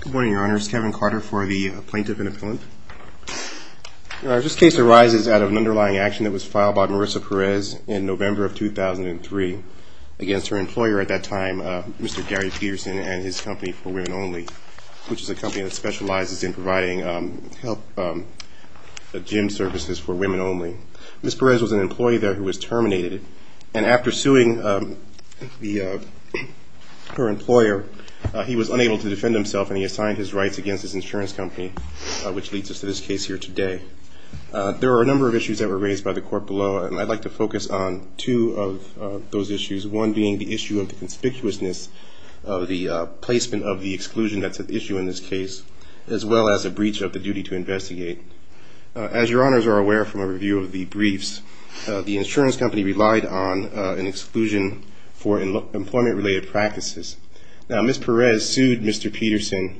Good morning, Your Honors. Kevin Carter for the Plaintiff and Appellant. This case arises out of an underlying action that was filed by Marissa Perez in November of 2003 against her employer at that time, Mr. Gary Peterson and his company, For Women Only, which is a company that specializes in providing gym services for women only. Ms. Perez was an employee there who was terminated, and after suing her employer, he was unable to disappear. He refused to defend himself, and he assigned his rights against his insurance company, which leads us to this case here today. There are a number of issues that were raised by the court below, and I'd like to focus on two of those issues, one being the issue of the conspicuousness of the placement of the exclusion that's at issue in this case, as well as a breach of the duty to investigate. As Your Honors are aware from a review of the briefs, the insurance company relied on an exclusion for employment-related practices. Now, Ms. Perez sued Mr. Peterson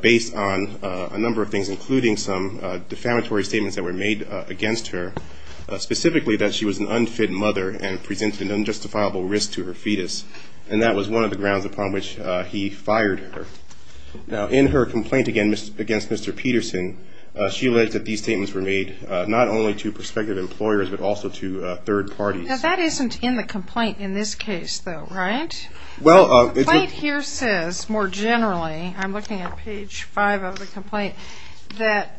based on a number of things, including some defamatory statements that were made against her, specifically that she was an unfit mother and presented an unjustifiable risk to her fetus, and that was one of the grounds upon which he fired her. Now, in her complaint against Mr. Peterson, she alleged that these statements were made not only to prospective employers, but also to third parties. Now, that isn't in the complaint in this case, though, right? The complaint here says, more generally, I'm looking at page five of the complaint, that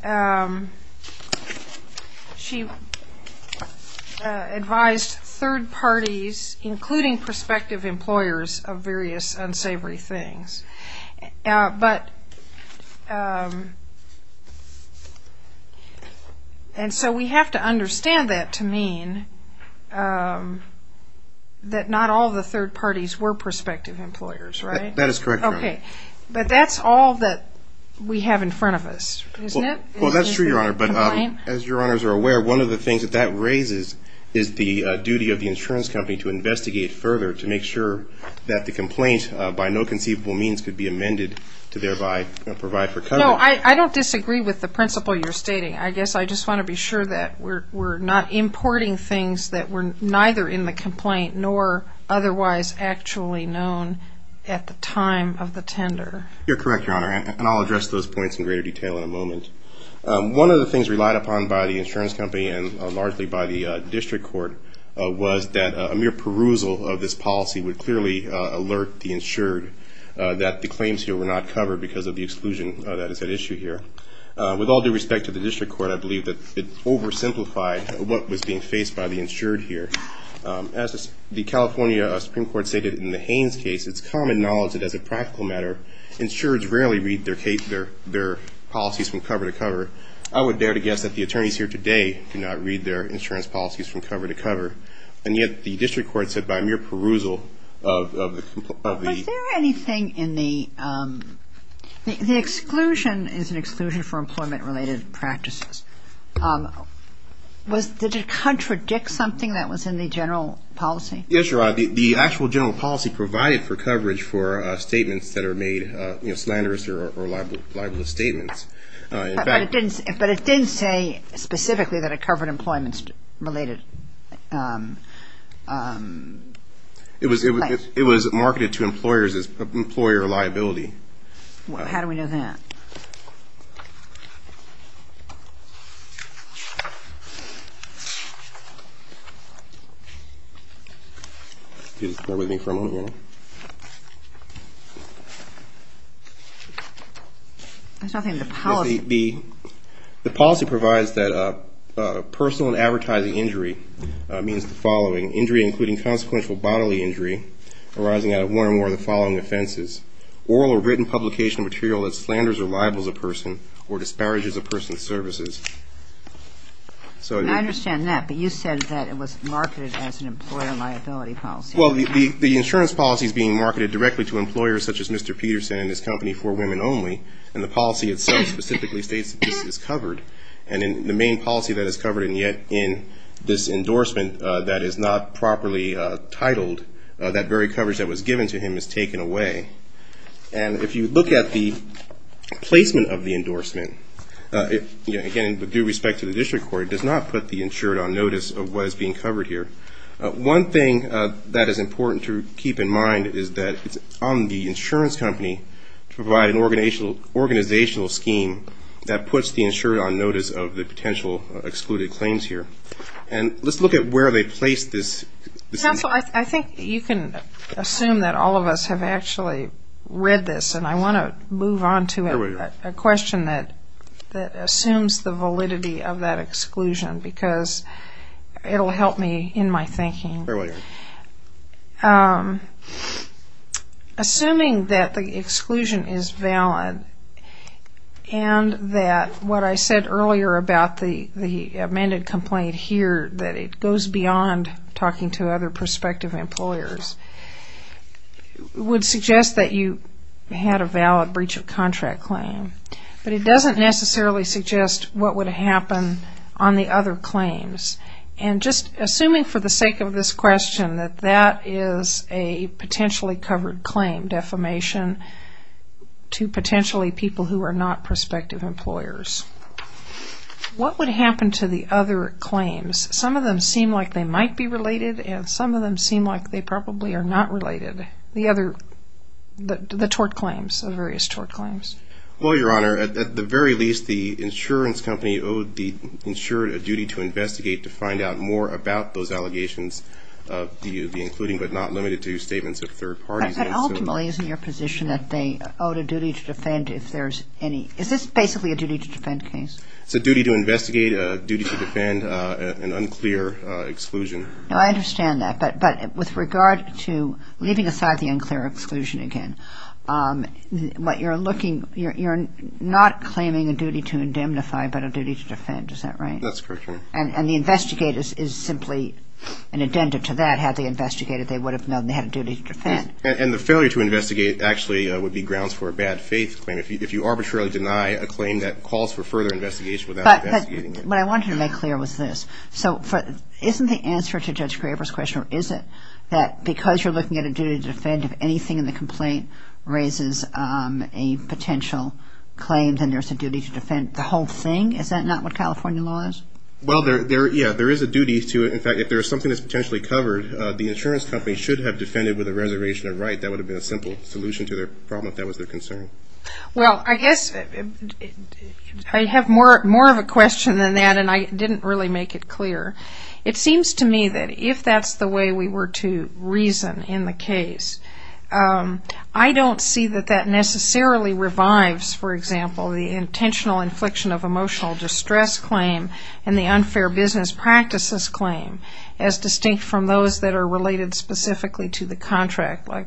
she advised third parties, including prospective employers, of various unsavory things. And so we have to understand that to mean that not all the third parties were prospective employers, right? That is correct, Your Honor. But that's all that we have in front of us, isn't it? Well, that's true, Your Honor, but as Your Honors are aware, one of the things that that raises is the duty of the insurance company to investigate further to make sure that the complaint, by no conceivable means, could be amended to thereby provide for coverage. No, I don't disagree with the principle you're stating. I guess I just want to be sure that we're not importing things that were neither in the complaint nor otherwise actually known at the time of the tender. You're correct, Your Honor, and I'll address those points in greater detail in a moment. One of the things relied upon by the insurance company and largely by the district court was that a mere perusal of this policy would clearly alert the insured that the claims here were not covered because of the exclusion that is at issue here. With all due respect to the district court, I believe that it oversimplified what was being faced by the insured here. As the California Supreme Court stated in the Haynes case, it's common knowledge that as a practical matter, insureds rarely read their policies from cover to cover. I would dare to guess that the attorneys here today do not read their insurance policies from cover to cover. And yet the district court said by mere perusal of the... The exclusion is an exclusion for employment-related practices. Did it contradict something that was in the general policy? Yes, Your Honor, the actual general policy provided for coverage for statements that are made, you know, slanderous or libelous statements. But it didn't say specifically that it covered employment-related claims. It was marketed to employers as employer liability. How do we know that? Bear with me for a moment, Your Honor. I was talking about the policy. The policy provides that personal and advertising injury means the following. Injury including consequential bodily injury arising out of one or more of the following offenses. Oral or written publication of material that slanders or libels a person or disparages a person's services. I understand that, but you said that it was marketed as an employer liability policy. Well, the insurance policy is being marketed directly to employers such as Mr. Peterson and his company for women only. And the policy itself specifically states that this is covered. And in the main policy that is covered, and yet in this endorsement that is not properly titled, that very coverage that was given to him is taken away. And if you look at the placement of the endorsement, again, with due respect to the district court, it does not put the insured on notice of what is being covered here. One thing that is important to keep in mind is that it's on the insurance company to provide an organizational scheme that puts the insured on notice of the potential excluded claims here. And let's look at where they place this. Counsel, I think you can assume that all of us have actually read this, and I want to move on to a question that assumes the validity of that exclusion, because it will help me in my thinking. Assuming that the exclusion is valid and that what I said earlier about the amended complaint here, that it goes beyond talking to other prospective employers, would suggest that you had a valid breach of contract claim. But it doesn't necessarily suggest what would happen on the other claims. And just assuming for the sake of this question that that is a potentially covered claim, defamation to potentially people who are not prospective employers, what would happen to the other claims? Some of them seem like they might be related, and some of them seem like they probably are not related, the tort claims, the various tort claims. Well, Your Honor, at the very least, the insurance company owed the insured a duty to investigate to find out more about those allegations of DUV, including but not limited to statements of third parties. But ultimately, isn't your position that they owed a duty to defend if there's any? Is this basically a duty to defend case? It's a duty to investigate, a duty to defend an unclear exclusion. No, I understand that. But with regard to leaving aside the unclear exclusion again, you're not claiming a duty to indemnify but a duty to defend. Is that right? That's correct, Your Honor. And the investigators is simply an addendum to that. Had they investigated, they would have known they had a duty to defend. And the failure to investigate actually would be grounds for a bad faith claim if you arbitrarily deny a claim that calls for further investigation without investigating it. But what I wanted to make clear was this. So isn't the answer to Judge Graber's question, or is it that because you're looking at a duty to defend, if anything in the complaint raises a potential claim, then there's a duty to defend the whole thing? Is that not what California law is? Well, yeah, there is a duty to it. In fact, if there is something that's potentially covered, the insurance company should have defended with a reservation of right. That would have been a simple solution to their problem if that was their concern. Well, I guess I have more of a question than that, and I didn't really make it clear. It seems to me that if that's the way we were to reason in the case, I don't see that that necessarily revives, for example, the intentional infliction of emotional distress claim and the unfair business practices claim as distinct from those that are related specifically to the contract. I'm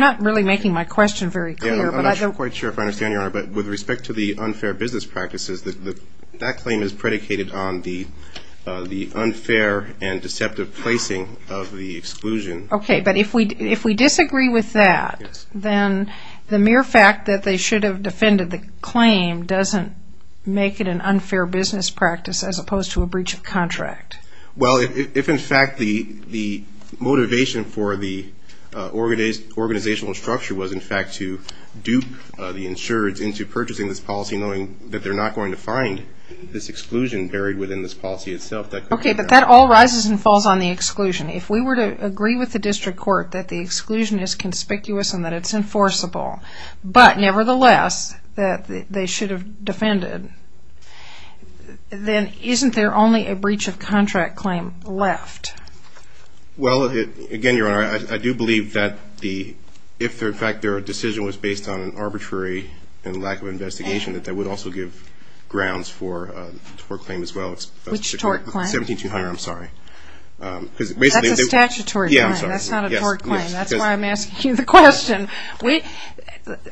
not really making my question very clear. But with respect to the unfair business practices, that claim is predicated on the unfair and deceptive placing of the exclusion. Okay, but if we disagree with that, then the mere fact that they should have defended the claim doesn't make it an unfair business practice as opposed to a breach of contract. Well, if in fact the motivation for the organizational structure was, in fact, to dupe the insureds into purchasing this policy, knowing that they're not going to find this exclusion buried within this policy itself. Okay, but that all rises and falls on the exclusion. If we were to agree with the district court that the exclusion is conspicuous and that it's enforceable, but nevertheless that they should have defended, then isn't there only a breach of contract claim left? Well, again, Your Honor, I do believe that if, in fact, their decision was based on an arbitrary and lack of investigation, that that would also give grounds for a tort claim as well. Which tort claim? 17200, I'm sorry. That's a statutory claim. Yeah, I'm sorry. That's not a tort claim. That's why I'm asking you the question.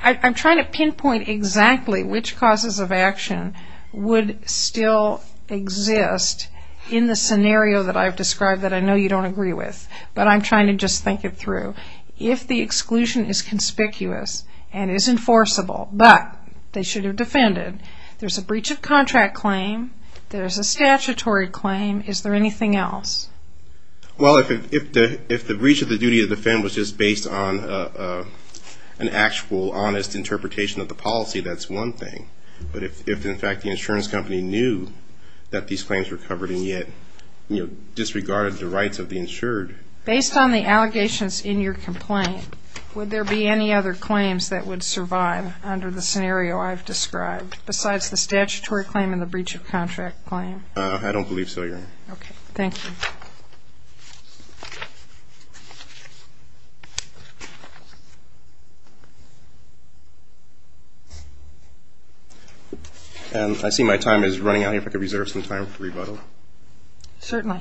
I'm trying to pinpoint exactly which causes of action would still exist in the scenario that I've described that I know you don't agree with, but I'm trying to just think it through. If the exclusion is conspicuous and is enforceable, but they should have defended, there's a breach of contract claim, there's a statutory claim. Is there anything else? Well, if the breach of the duty to defend was just based on an actual honest interpretation of the policy, that's one thing. But if, in fact, the insurance company knew that these claims were covered and yet disregarded the rights of the insured. Based on the allegations in your complaint, would there be any other claims that would survive under the scenario I've described, besides the statutory claim and the breach of contract claim? I don't believe so, Your Honor. Okay. Thank you. And I see my time is running out. If I could reserve some time for rebuttal. Certainly.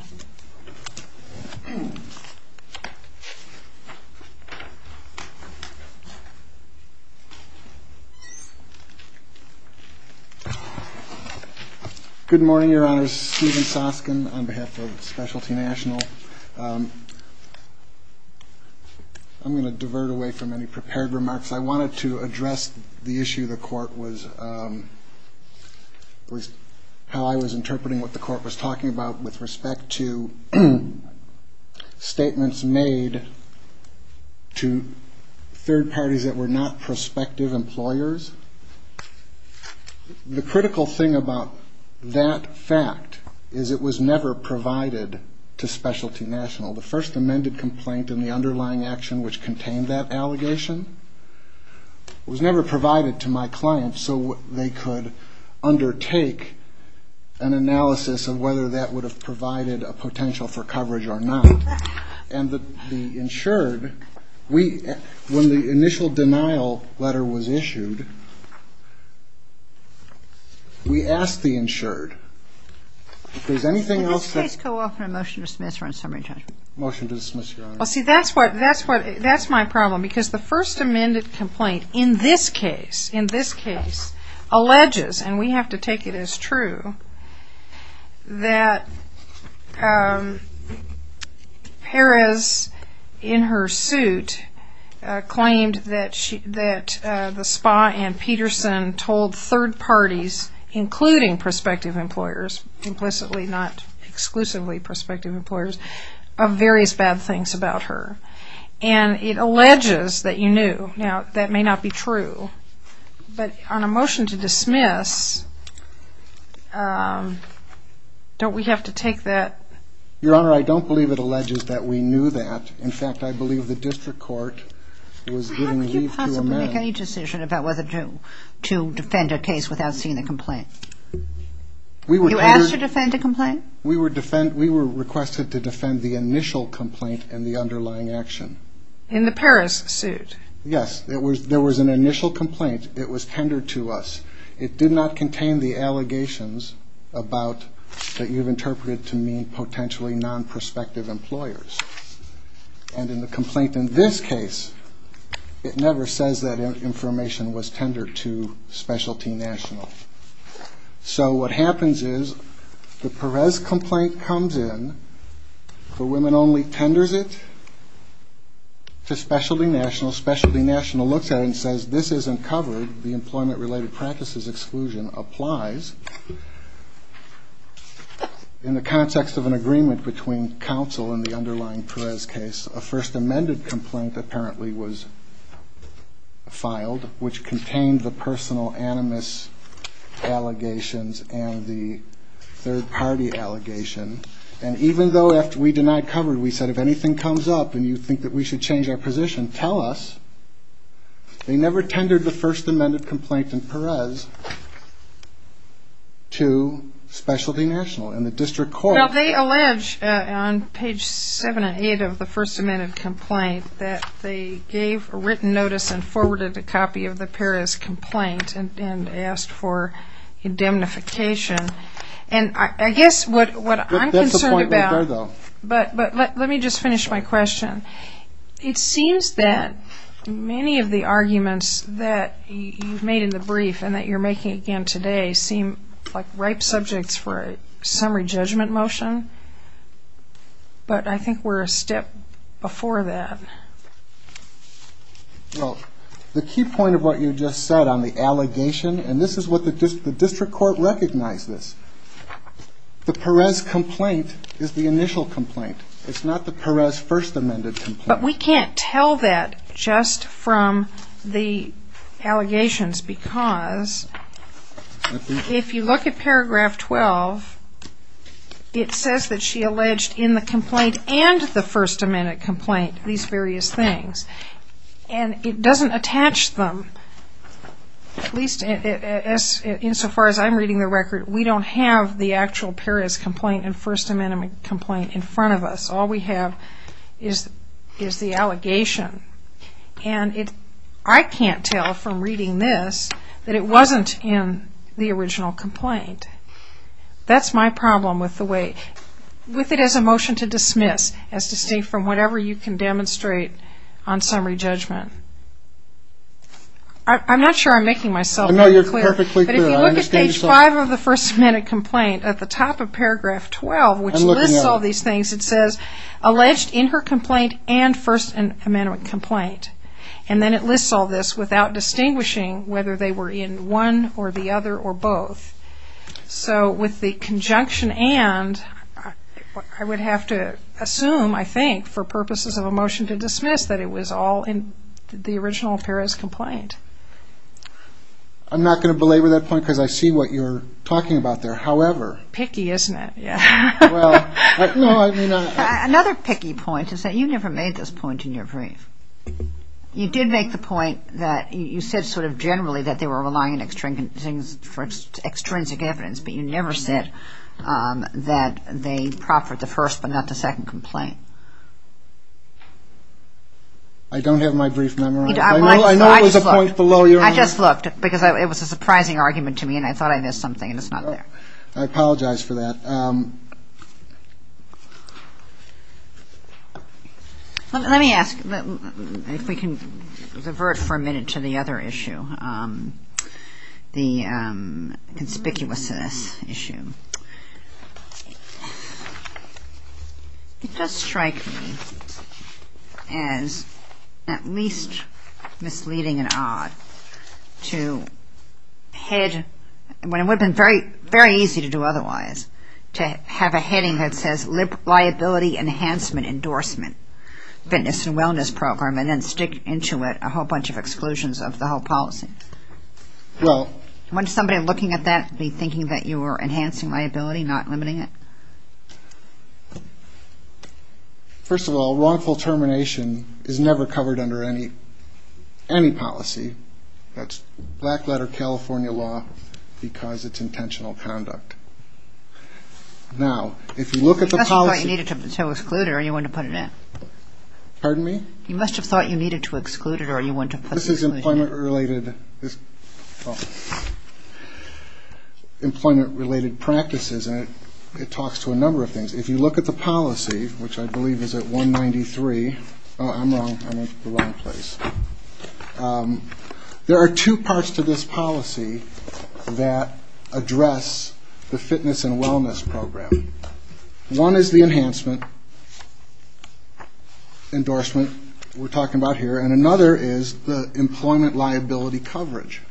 Good morning, Your Honor. My name is Stephen Soskin on behalf of Specialty National. I'm going to divert away from any prepared remarks. I wanted to address the issue the Court was, how I was interpreting what the Court was talking about with respect to statements made to third parties that were not prospective employers. The critical thing about that fact is it was never provided to Specialty National. The first amended complaint and the underlying action which contained that allegation was never provided to my client so they could undertake an analysis of whether that would have provided a potential for coverage or not. And the insured, when the initial denial letter was issued, we asked the insured if there was anything else that Can this case go off on a motion to dismiss or on summary judgment? Motion to dismiss, Your Honor. Well, see, that's my problem because the first amended complaint in this case, in this case, Perez in her suit claimed that the spa and Peterson told third parties, including prospective employers, implicitly not exclusively prospective employers, of various bad things about her. And it alleges that you knew. Now, that may not be true. But on a motion to dismiss, don't we have to take that? Your Honor, I don't believe it alleges that we knew that. In fact, I believe the district court was giving leave to amend. How could you possibly make any decision about whether to defend a case without seeing the complaint? You asked to defend a complaint? We were requested to defend the initial complaint and the underlying action. In the Perez suit? Yes. There was an initial complaint. It was tendered to us. It did not contain the allegations about that you've interpreted to mean potentially non-prospective employers. And in the complaint in this case, it never says that information was tendered to Specialty National. So what happens is the Perez complaint comes in. The women only tenders it to Specialty National. Specialty National looks at it and says this isn't covered. The employment-related practices exclusion applies. In the context of an agreement between counsel and the underlying Perez case, a first amended complaint apparently was filed, which contained the personal animus allegations and the third-party allegation. And even though after we denied cover, we said if anything comes up and you think that we should change our position, tell us, they never tendered the first amended complaint in Perez to Specialty National. And the district court- Well, they allege on page 7 and 8 of the first amended complaint that they gave a written notice and forwarded a copy of the Perez complaint and asked for indemnification. And I guess what I'm concerned about- That's the point right there, though. But let me just finish my question. It seems that many of the arguments that you've made in the brief and that you're making again today seem like ripe subjects for a summary judgment motion. But I think we're a step before that. Well, the key point of what you just said on the allegation, and this is what the district court recognized this, the Perez complaint is the initial complaint. It's not the Perez first amended complaint. But we can't tell that just from the allegations because if you look at paragraph 12, it says that she alleged in the complaint and the first amended complaint these various things. And it doesn't attach them, at least insofar as I'm reading the record, we don't have the actual Perez complaint and first amended complaint in front of us. All we have is the allegation. And I can't tell from reading this that it wasn't in the original complaint. That's my problem with the way- with it as a motion to dismiss as distinct from whatever you can demonstrate on summary judgment. I'm not sure I'm making myself very clear. But if you look at page 5 of the first amended complaint, at the top of paragraph 12, which lists all these things, it says alleged in her complaint and first amended complaint. And then it lists all this without distinguishing whether they were in one or the other or both. So with the conjunction and, I would have to assume, I think, for purposes of a motion to dismiss that it was all in the original Perez complaint. I'm not going to belabor that point because I see what you're talking about there. However- Picky, isn't it? Another picky point is that you never made this point in your brief. You did make the point that you said sort of generally that they were relying on extrinsic evidence, but you never said that they proffered the first but not the second complaint. I don't have my brief memorized. I know it was a point below your own. I just looked because it was a surprising argument to me and I thought I missed something and it's not there. I apologize for that. Let me ask if we can revert for a minute to the other issue, the conspicuousness issue. It does strike me as at least misleading and odd to head, when it would have been very easy to do otherwise, to have a heading that says liability enhancement endorsement, fitness and wellness program, and then stick into it a whole bunch of exclusions of the whole policy. Well- Wouldn't somebody looking at that be thinking that you were enhancing liability, not limiting it? First of all, wrongful termination is never covered under any policy. That's black letter California law because it's intentional conduct. Now, if you look at the policy- You must have thought you needed to exclude it or you wouldn't have put it in. Pardon me? This is employment-related practices and it talks to a number of things. If you look at the policy, which I believe is at 193- Oh, I'm wrong. I went to the wrong place. There are two parts to this policy that address the fitness and wellness program. One is the enhancement endorsement we're talking about here, and another is the employment liability coverage.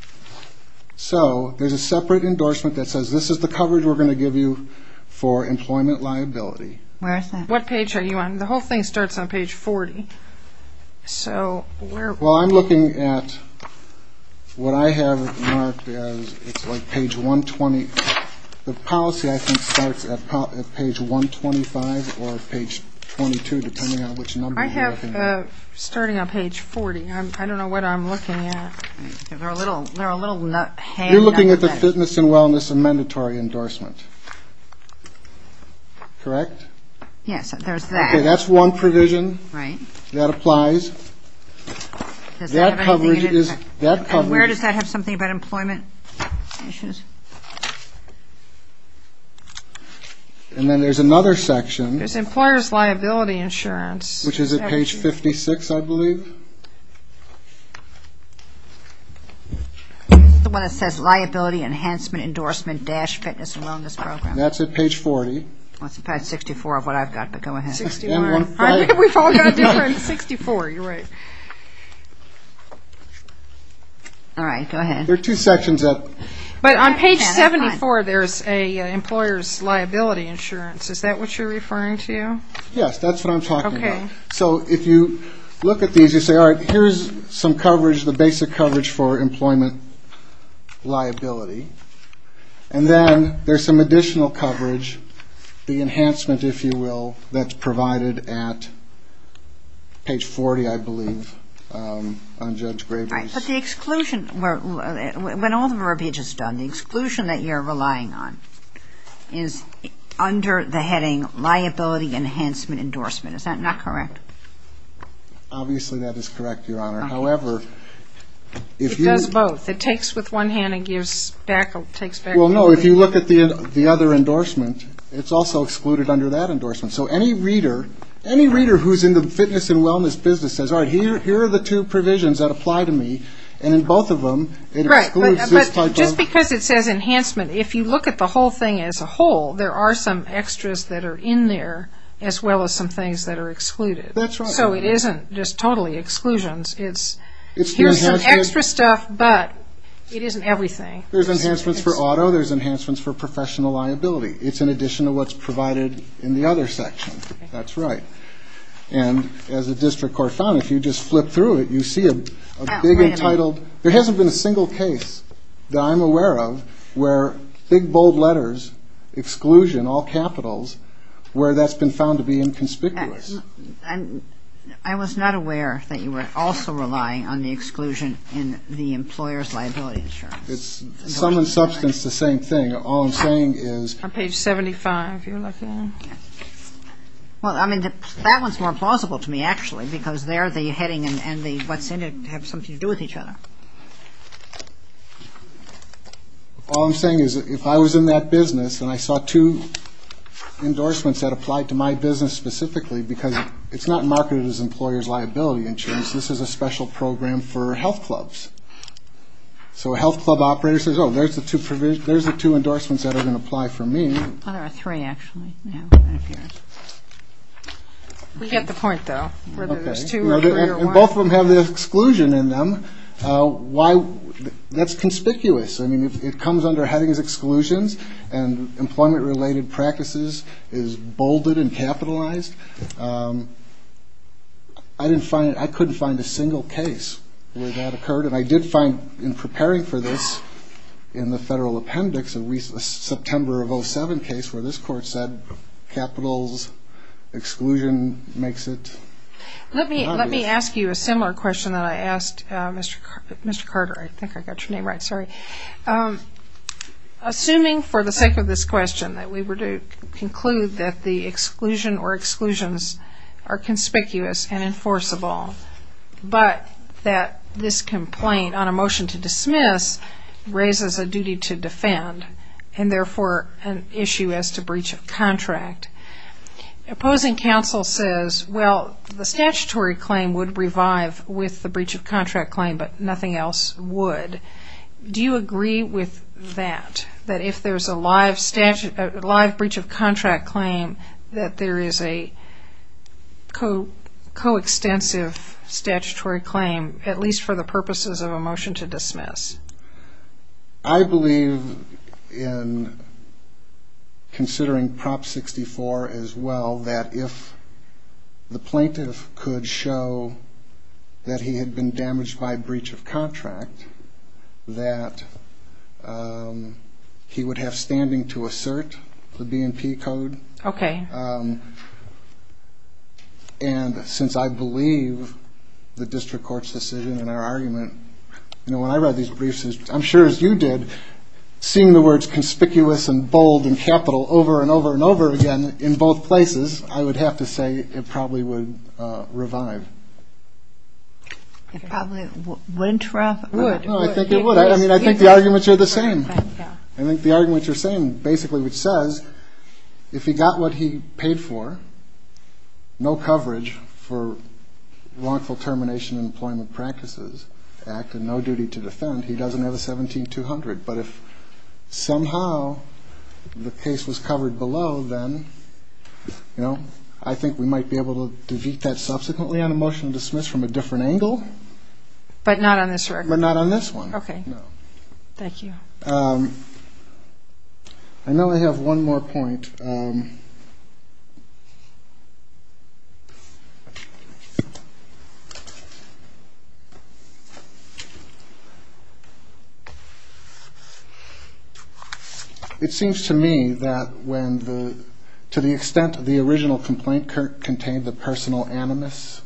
So there's a separate endorsement that says this is the coverage we're going to give you for employment liability. Where is that? What page are you on? The whole thing starts on page 40. So where- Well, I'm looking at what I have marked as it's like page 120. The policy, I think, starts at page 125 or page 22, depending on which number you're looking at. I have, starting on page 40, I don't know what I'm looking at. They're a little hand- You're looking at the fitness and wellness and mandatory endorsement. Correct? Yes, there's that. Okay, that's one provision. Right. That applies. Does that have anything in it? That coverage is- And where does that have something about employment issues? And then there's another section. There's employer's liability insurance. Which is at page 56, I believe. The one that says liability enhancement endorsement dash fitness and wellness program. That's at page 40. That's at page 64 of what I've got, but go ahead. 61. I think we've all got different- 64, you're right. All right, go ahead. There are two sections that- But on page 74, there's an employer's liability insurance. Is that what you're referring to? Yes, that's what I'm talking about. Okay. So if you look at these, you say, all right, here's some coverage, the basic coverage for employment liability. And then there's some additional coverage, the enhancement, if you will, that's provided at page 40, I believe. Unjudged gravities. But the exclusion, when all the verbiage is done, the exclusion that you're relying on is under the heading liability enhancement endorsement. Is that not correct? Obviously, that is correct, Your Honor. However, if you- It does both. It takes with one hand and takes back. Well, no, if you look at the other endorsement, it's also excluded under that endorsement. So any reader who's in the fitness and wellness business says, all right, here are the two provisions that apply to me. And in both of them, it excludes this type of- Right, but just because it says enhancement, if you look at the whole thing as a whole, there are some extras that are in there as well as some things that are excluded. That's right. So it isn't just totally exclusions. It's here's some extra stuff, but it isn't everything. There's enhancements for auto. There's enhancements for professional liability. It's in addition to what's provided in the other section. That's right. And as the district court found, if you just flip through it, you see a big entitled- There hasn't been a single case that I'm aware of where big, bold letters, exclusion, all capitals, where that's been found to be inconspicuous. I was not aware that you were also relying on the exclusion in the employer's liability insurance. It's some in substance the same thing. All I'm saying is- On page 75, if you're looking. Well, I mean, that one's more plausible to me, actually, because there the heading and what's in it have something to do with each other. All I'm saying is if I was in that business and I saw two endorsements that applied to my business specifically because it's not marketed as employer's liability insurance. This is a special program for health clubs. So a health club operator says, oh, there's the two endorsements that are going to apply for me. There are three, actually. We get the point, though, whether there's two or three or one. And both of them have the exclusion in them. That's conspicuous. I mean, it comes under headings exclusions and employment-related practices is bolded and capitalized. I couldn't find a single case where that occurred. And I did find in preparing for this in the federal appendix a September of 07 case where this court said capital's exclusion makes it obvious. Let me ask you a similar question that I asked Mr. Carter. I think I got your name right. Sorry. Assuming for the sake of this question that we were to conclude that the exclusion or exclusions are conspicuous and enforceable, but that this complaint on a motion to dismiss raises a duty to defend and, therefore, an issue as to breach of contract. Opposing counsel says, well, the statutory claim would revive with the breach of contract claim, but nothing else would. Do you agree with that, that if there's a live breach of contract claim, that there is a coextensive statutory claim, at least for the purposes of a motion to dismiss? I believe in considering Prop 64 as well that if the plaintiff could show that he had been damaged by breach of contract, that he would have standing to assert the B&P Code. Okay. And since I believe the district court's decision in our argument, you know, when I read these briefs, I'm sure as you did, seeing the words conspicuous and bold and capital over and over and over again in both places, I would have to say it probably would revive. It probably wouldn't revive? No, I think it would. I mean, I think the arguments are the same. I think the arguments are the same, basically, which says if he got what he paid for, no coverage for wrongful termination of employment practices act and no duty to defend, he doesn't have a 17200. But if somehow the case was covered below, then, you know, I think we might be able to defeat that subsequently on a motion to dismiss from a different angle. But not on this record? But not on this one. Okay. No. Thank you. I know I have one more point. It seems to me that to the extent the original complaint contained the personal animus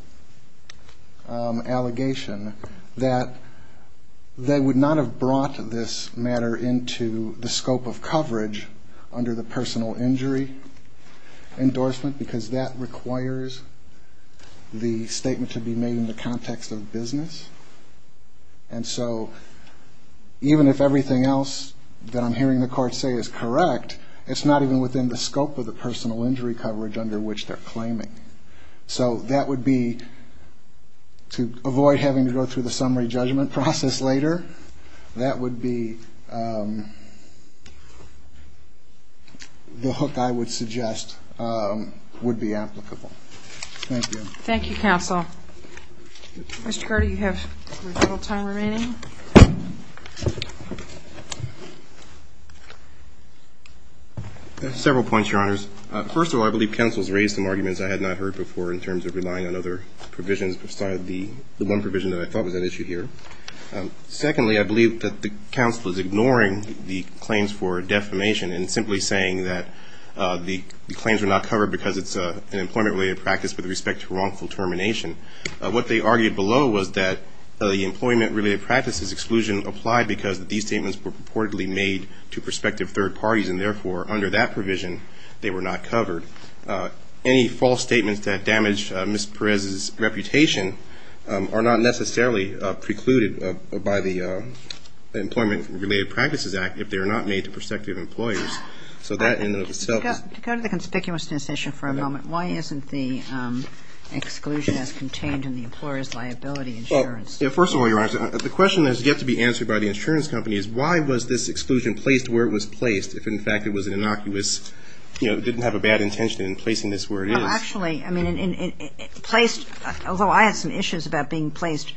allegation, that they would not have brought this matter into the scope of coverage under the personal injury endorsement, because that requires the statement to be made in the context of business. And so even if everything else that I'm hearing the court say is correct, it's not even within the scope of the personal injury coverage under which they're claiming. So that would be, to avoid having to go through the summary judgment process later, that would be the hook I would suggest would be applicable. Thank you. Thank you, counsel. Mr. Carter, you have a little time remaining. Several points, Your Honors. First of all, I believe counsel's raised some arguments I had not heard before in terms of relying on other provisions besides the one provision that I thought was at issue here. Secondly, I believe that the counsel is ignoring the claims for defamation and simply saying that the claims were not covered because it's an employment-related practice with respect to wrongful termination. What they argued below was that the employment-related practices exclusion applied because these statements were purportedly made to prospective third parties, and therefore under that provision they were not covered. Any false statements that damage Ms. Perez's reputation are not necessarily precluded by the Employment-Related Practices Act if they are not made to prospective employees. So that in and of itself is – To go to the conspicuousness issue for a moment, why isn't the exclusion as contained in the employer's liability insurance? First of all, Your Honors, the question that has yet to be answered by the insurance company is why was this exclusion placed where it was placed if, in fact, it was innocuous, didn't have a bad intention in placing this where it is? Actually, I mean, it placed – although I had some issues about being placed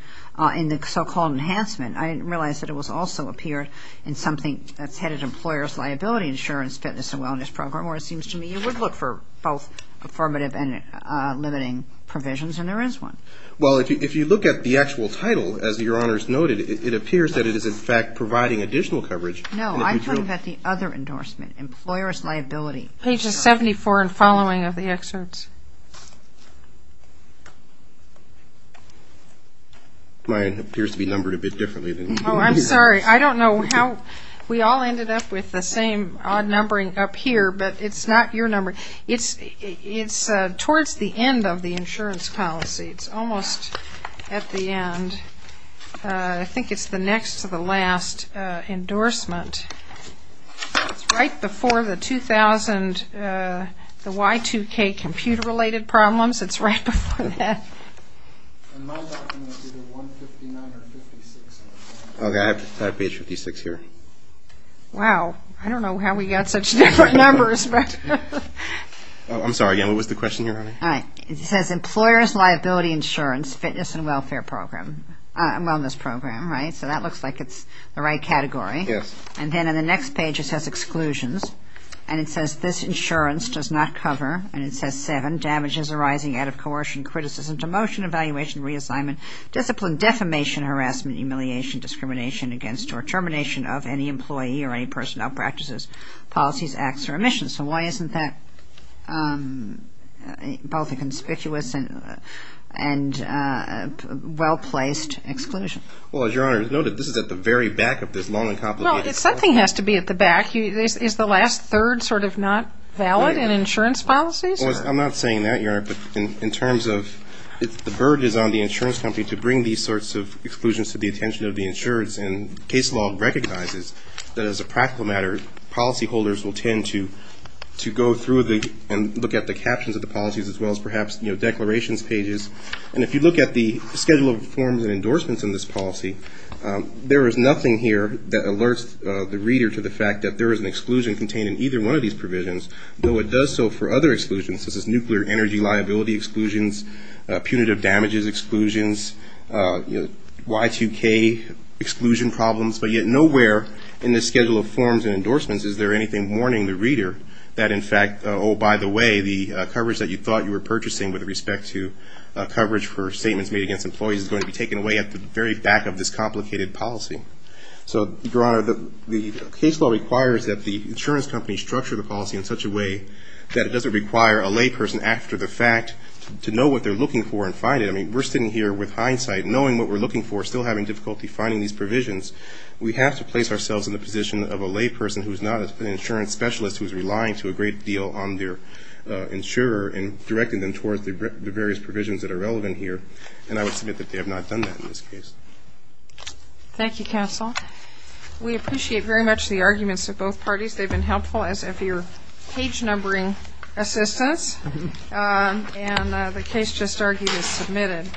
in the so-called enhancement, I didn't realize that it also appeared in something that's headed Employer's Liability Insurance Fitness and Wellness Program, or it seems to me you would look for both affirmative and limiting provisions, and there is one. Well, if you look at the actual title, as Your Honors noted, it appears that it is, in fact, providing additional coverage. No, I'm talking about the other endorsement, Employer's Liability Insurance. Page 74 and following of the excerpts. Mine appears to be numbered a bit differently than yours. Oh, I'm sorry. I don't know how we all ended up with the same odd numbering up here, but it's not your number. It's towards the end of the insurance policy. It's almost at the end. I think it's the next to the last endorsement. It's right before the 2000 – the Y2K computer-related problems. It's right before that. And my document is either 159 or 56. Okay, I have page 56 here. Wow, I don't know how we got such different numbers. I'm sorry again. What was the question here, honey? It says Employer's Liability Insurance Fitness and Wellness Program, right? So that looks like it's the right category. Yes. And then in the next page it says Exclusions, and it says this insurance does not cover, and it says seven, damages arising out of coercion, criticism, demotion, evaluation, reassignment, discipline, defamation, harassment, humiliation, discrimination against or termination of any employee or any person who outpractices policies, acts, or emissions. So why isn't that both a conspicuous and well-placed exclusion? Well, as Your Honor noted, this is at the very back of this long and complicated – Well, something has to be at the back. Is the last third sort of not valid in insurance policies? Well, I'm not saying that, Your Honor, but in terms of if the burden is on the insurance company to bring these sorts of exclusions to the attention of the insurance and case law recognizes that as a practical matter, policyholders will tend to go through and look at the captions of the policies as well as perhaps declarations pages. And if you look at the schedule of forms and endorsements in this policy, there is nothing here that alerts the reader to the fact that there is an exclusion contained in either one of these provisions, though it does so for other exclusions. This is nuclear energy liability exclusions, punitive damages exclusions, Y2K exclusion problems. But yet nowhere in the schedule of forms and endorsements is there anything warning the reader that, in fact, oh, by the way, the coverage that you thought you were purchasing with respect to coverage for statements made against employees is going to be taken away at the very back of this complicated policy. So, Your Honor, the case law requires that the insurance company structure the policy in such a way that it doesn't require a layperson after the fact to know what they're looking for and find it. I mean, we're sitting here with hindsight, knowing what we're looking for, still having difficulty finding these provisions. We have to place ourselves in the position of a layperson who is not an insurance specialist who is relying to a great deal on their insurer and directing them towards the various provisions that are relevant here. And I would submit that they have not done that in this case. Thank you, counsel. We appreciate very much the arguments of both parties. They've been helpful as if you're page numbering assistance. And the case just argued is submitted.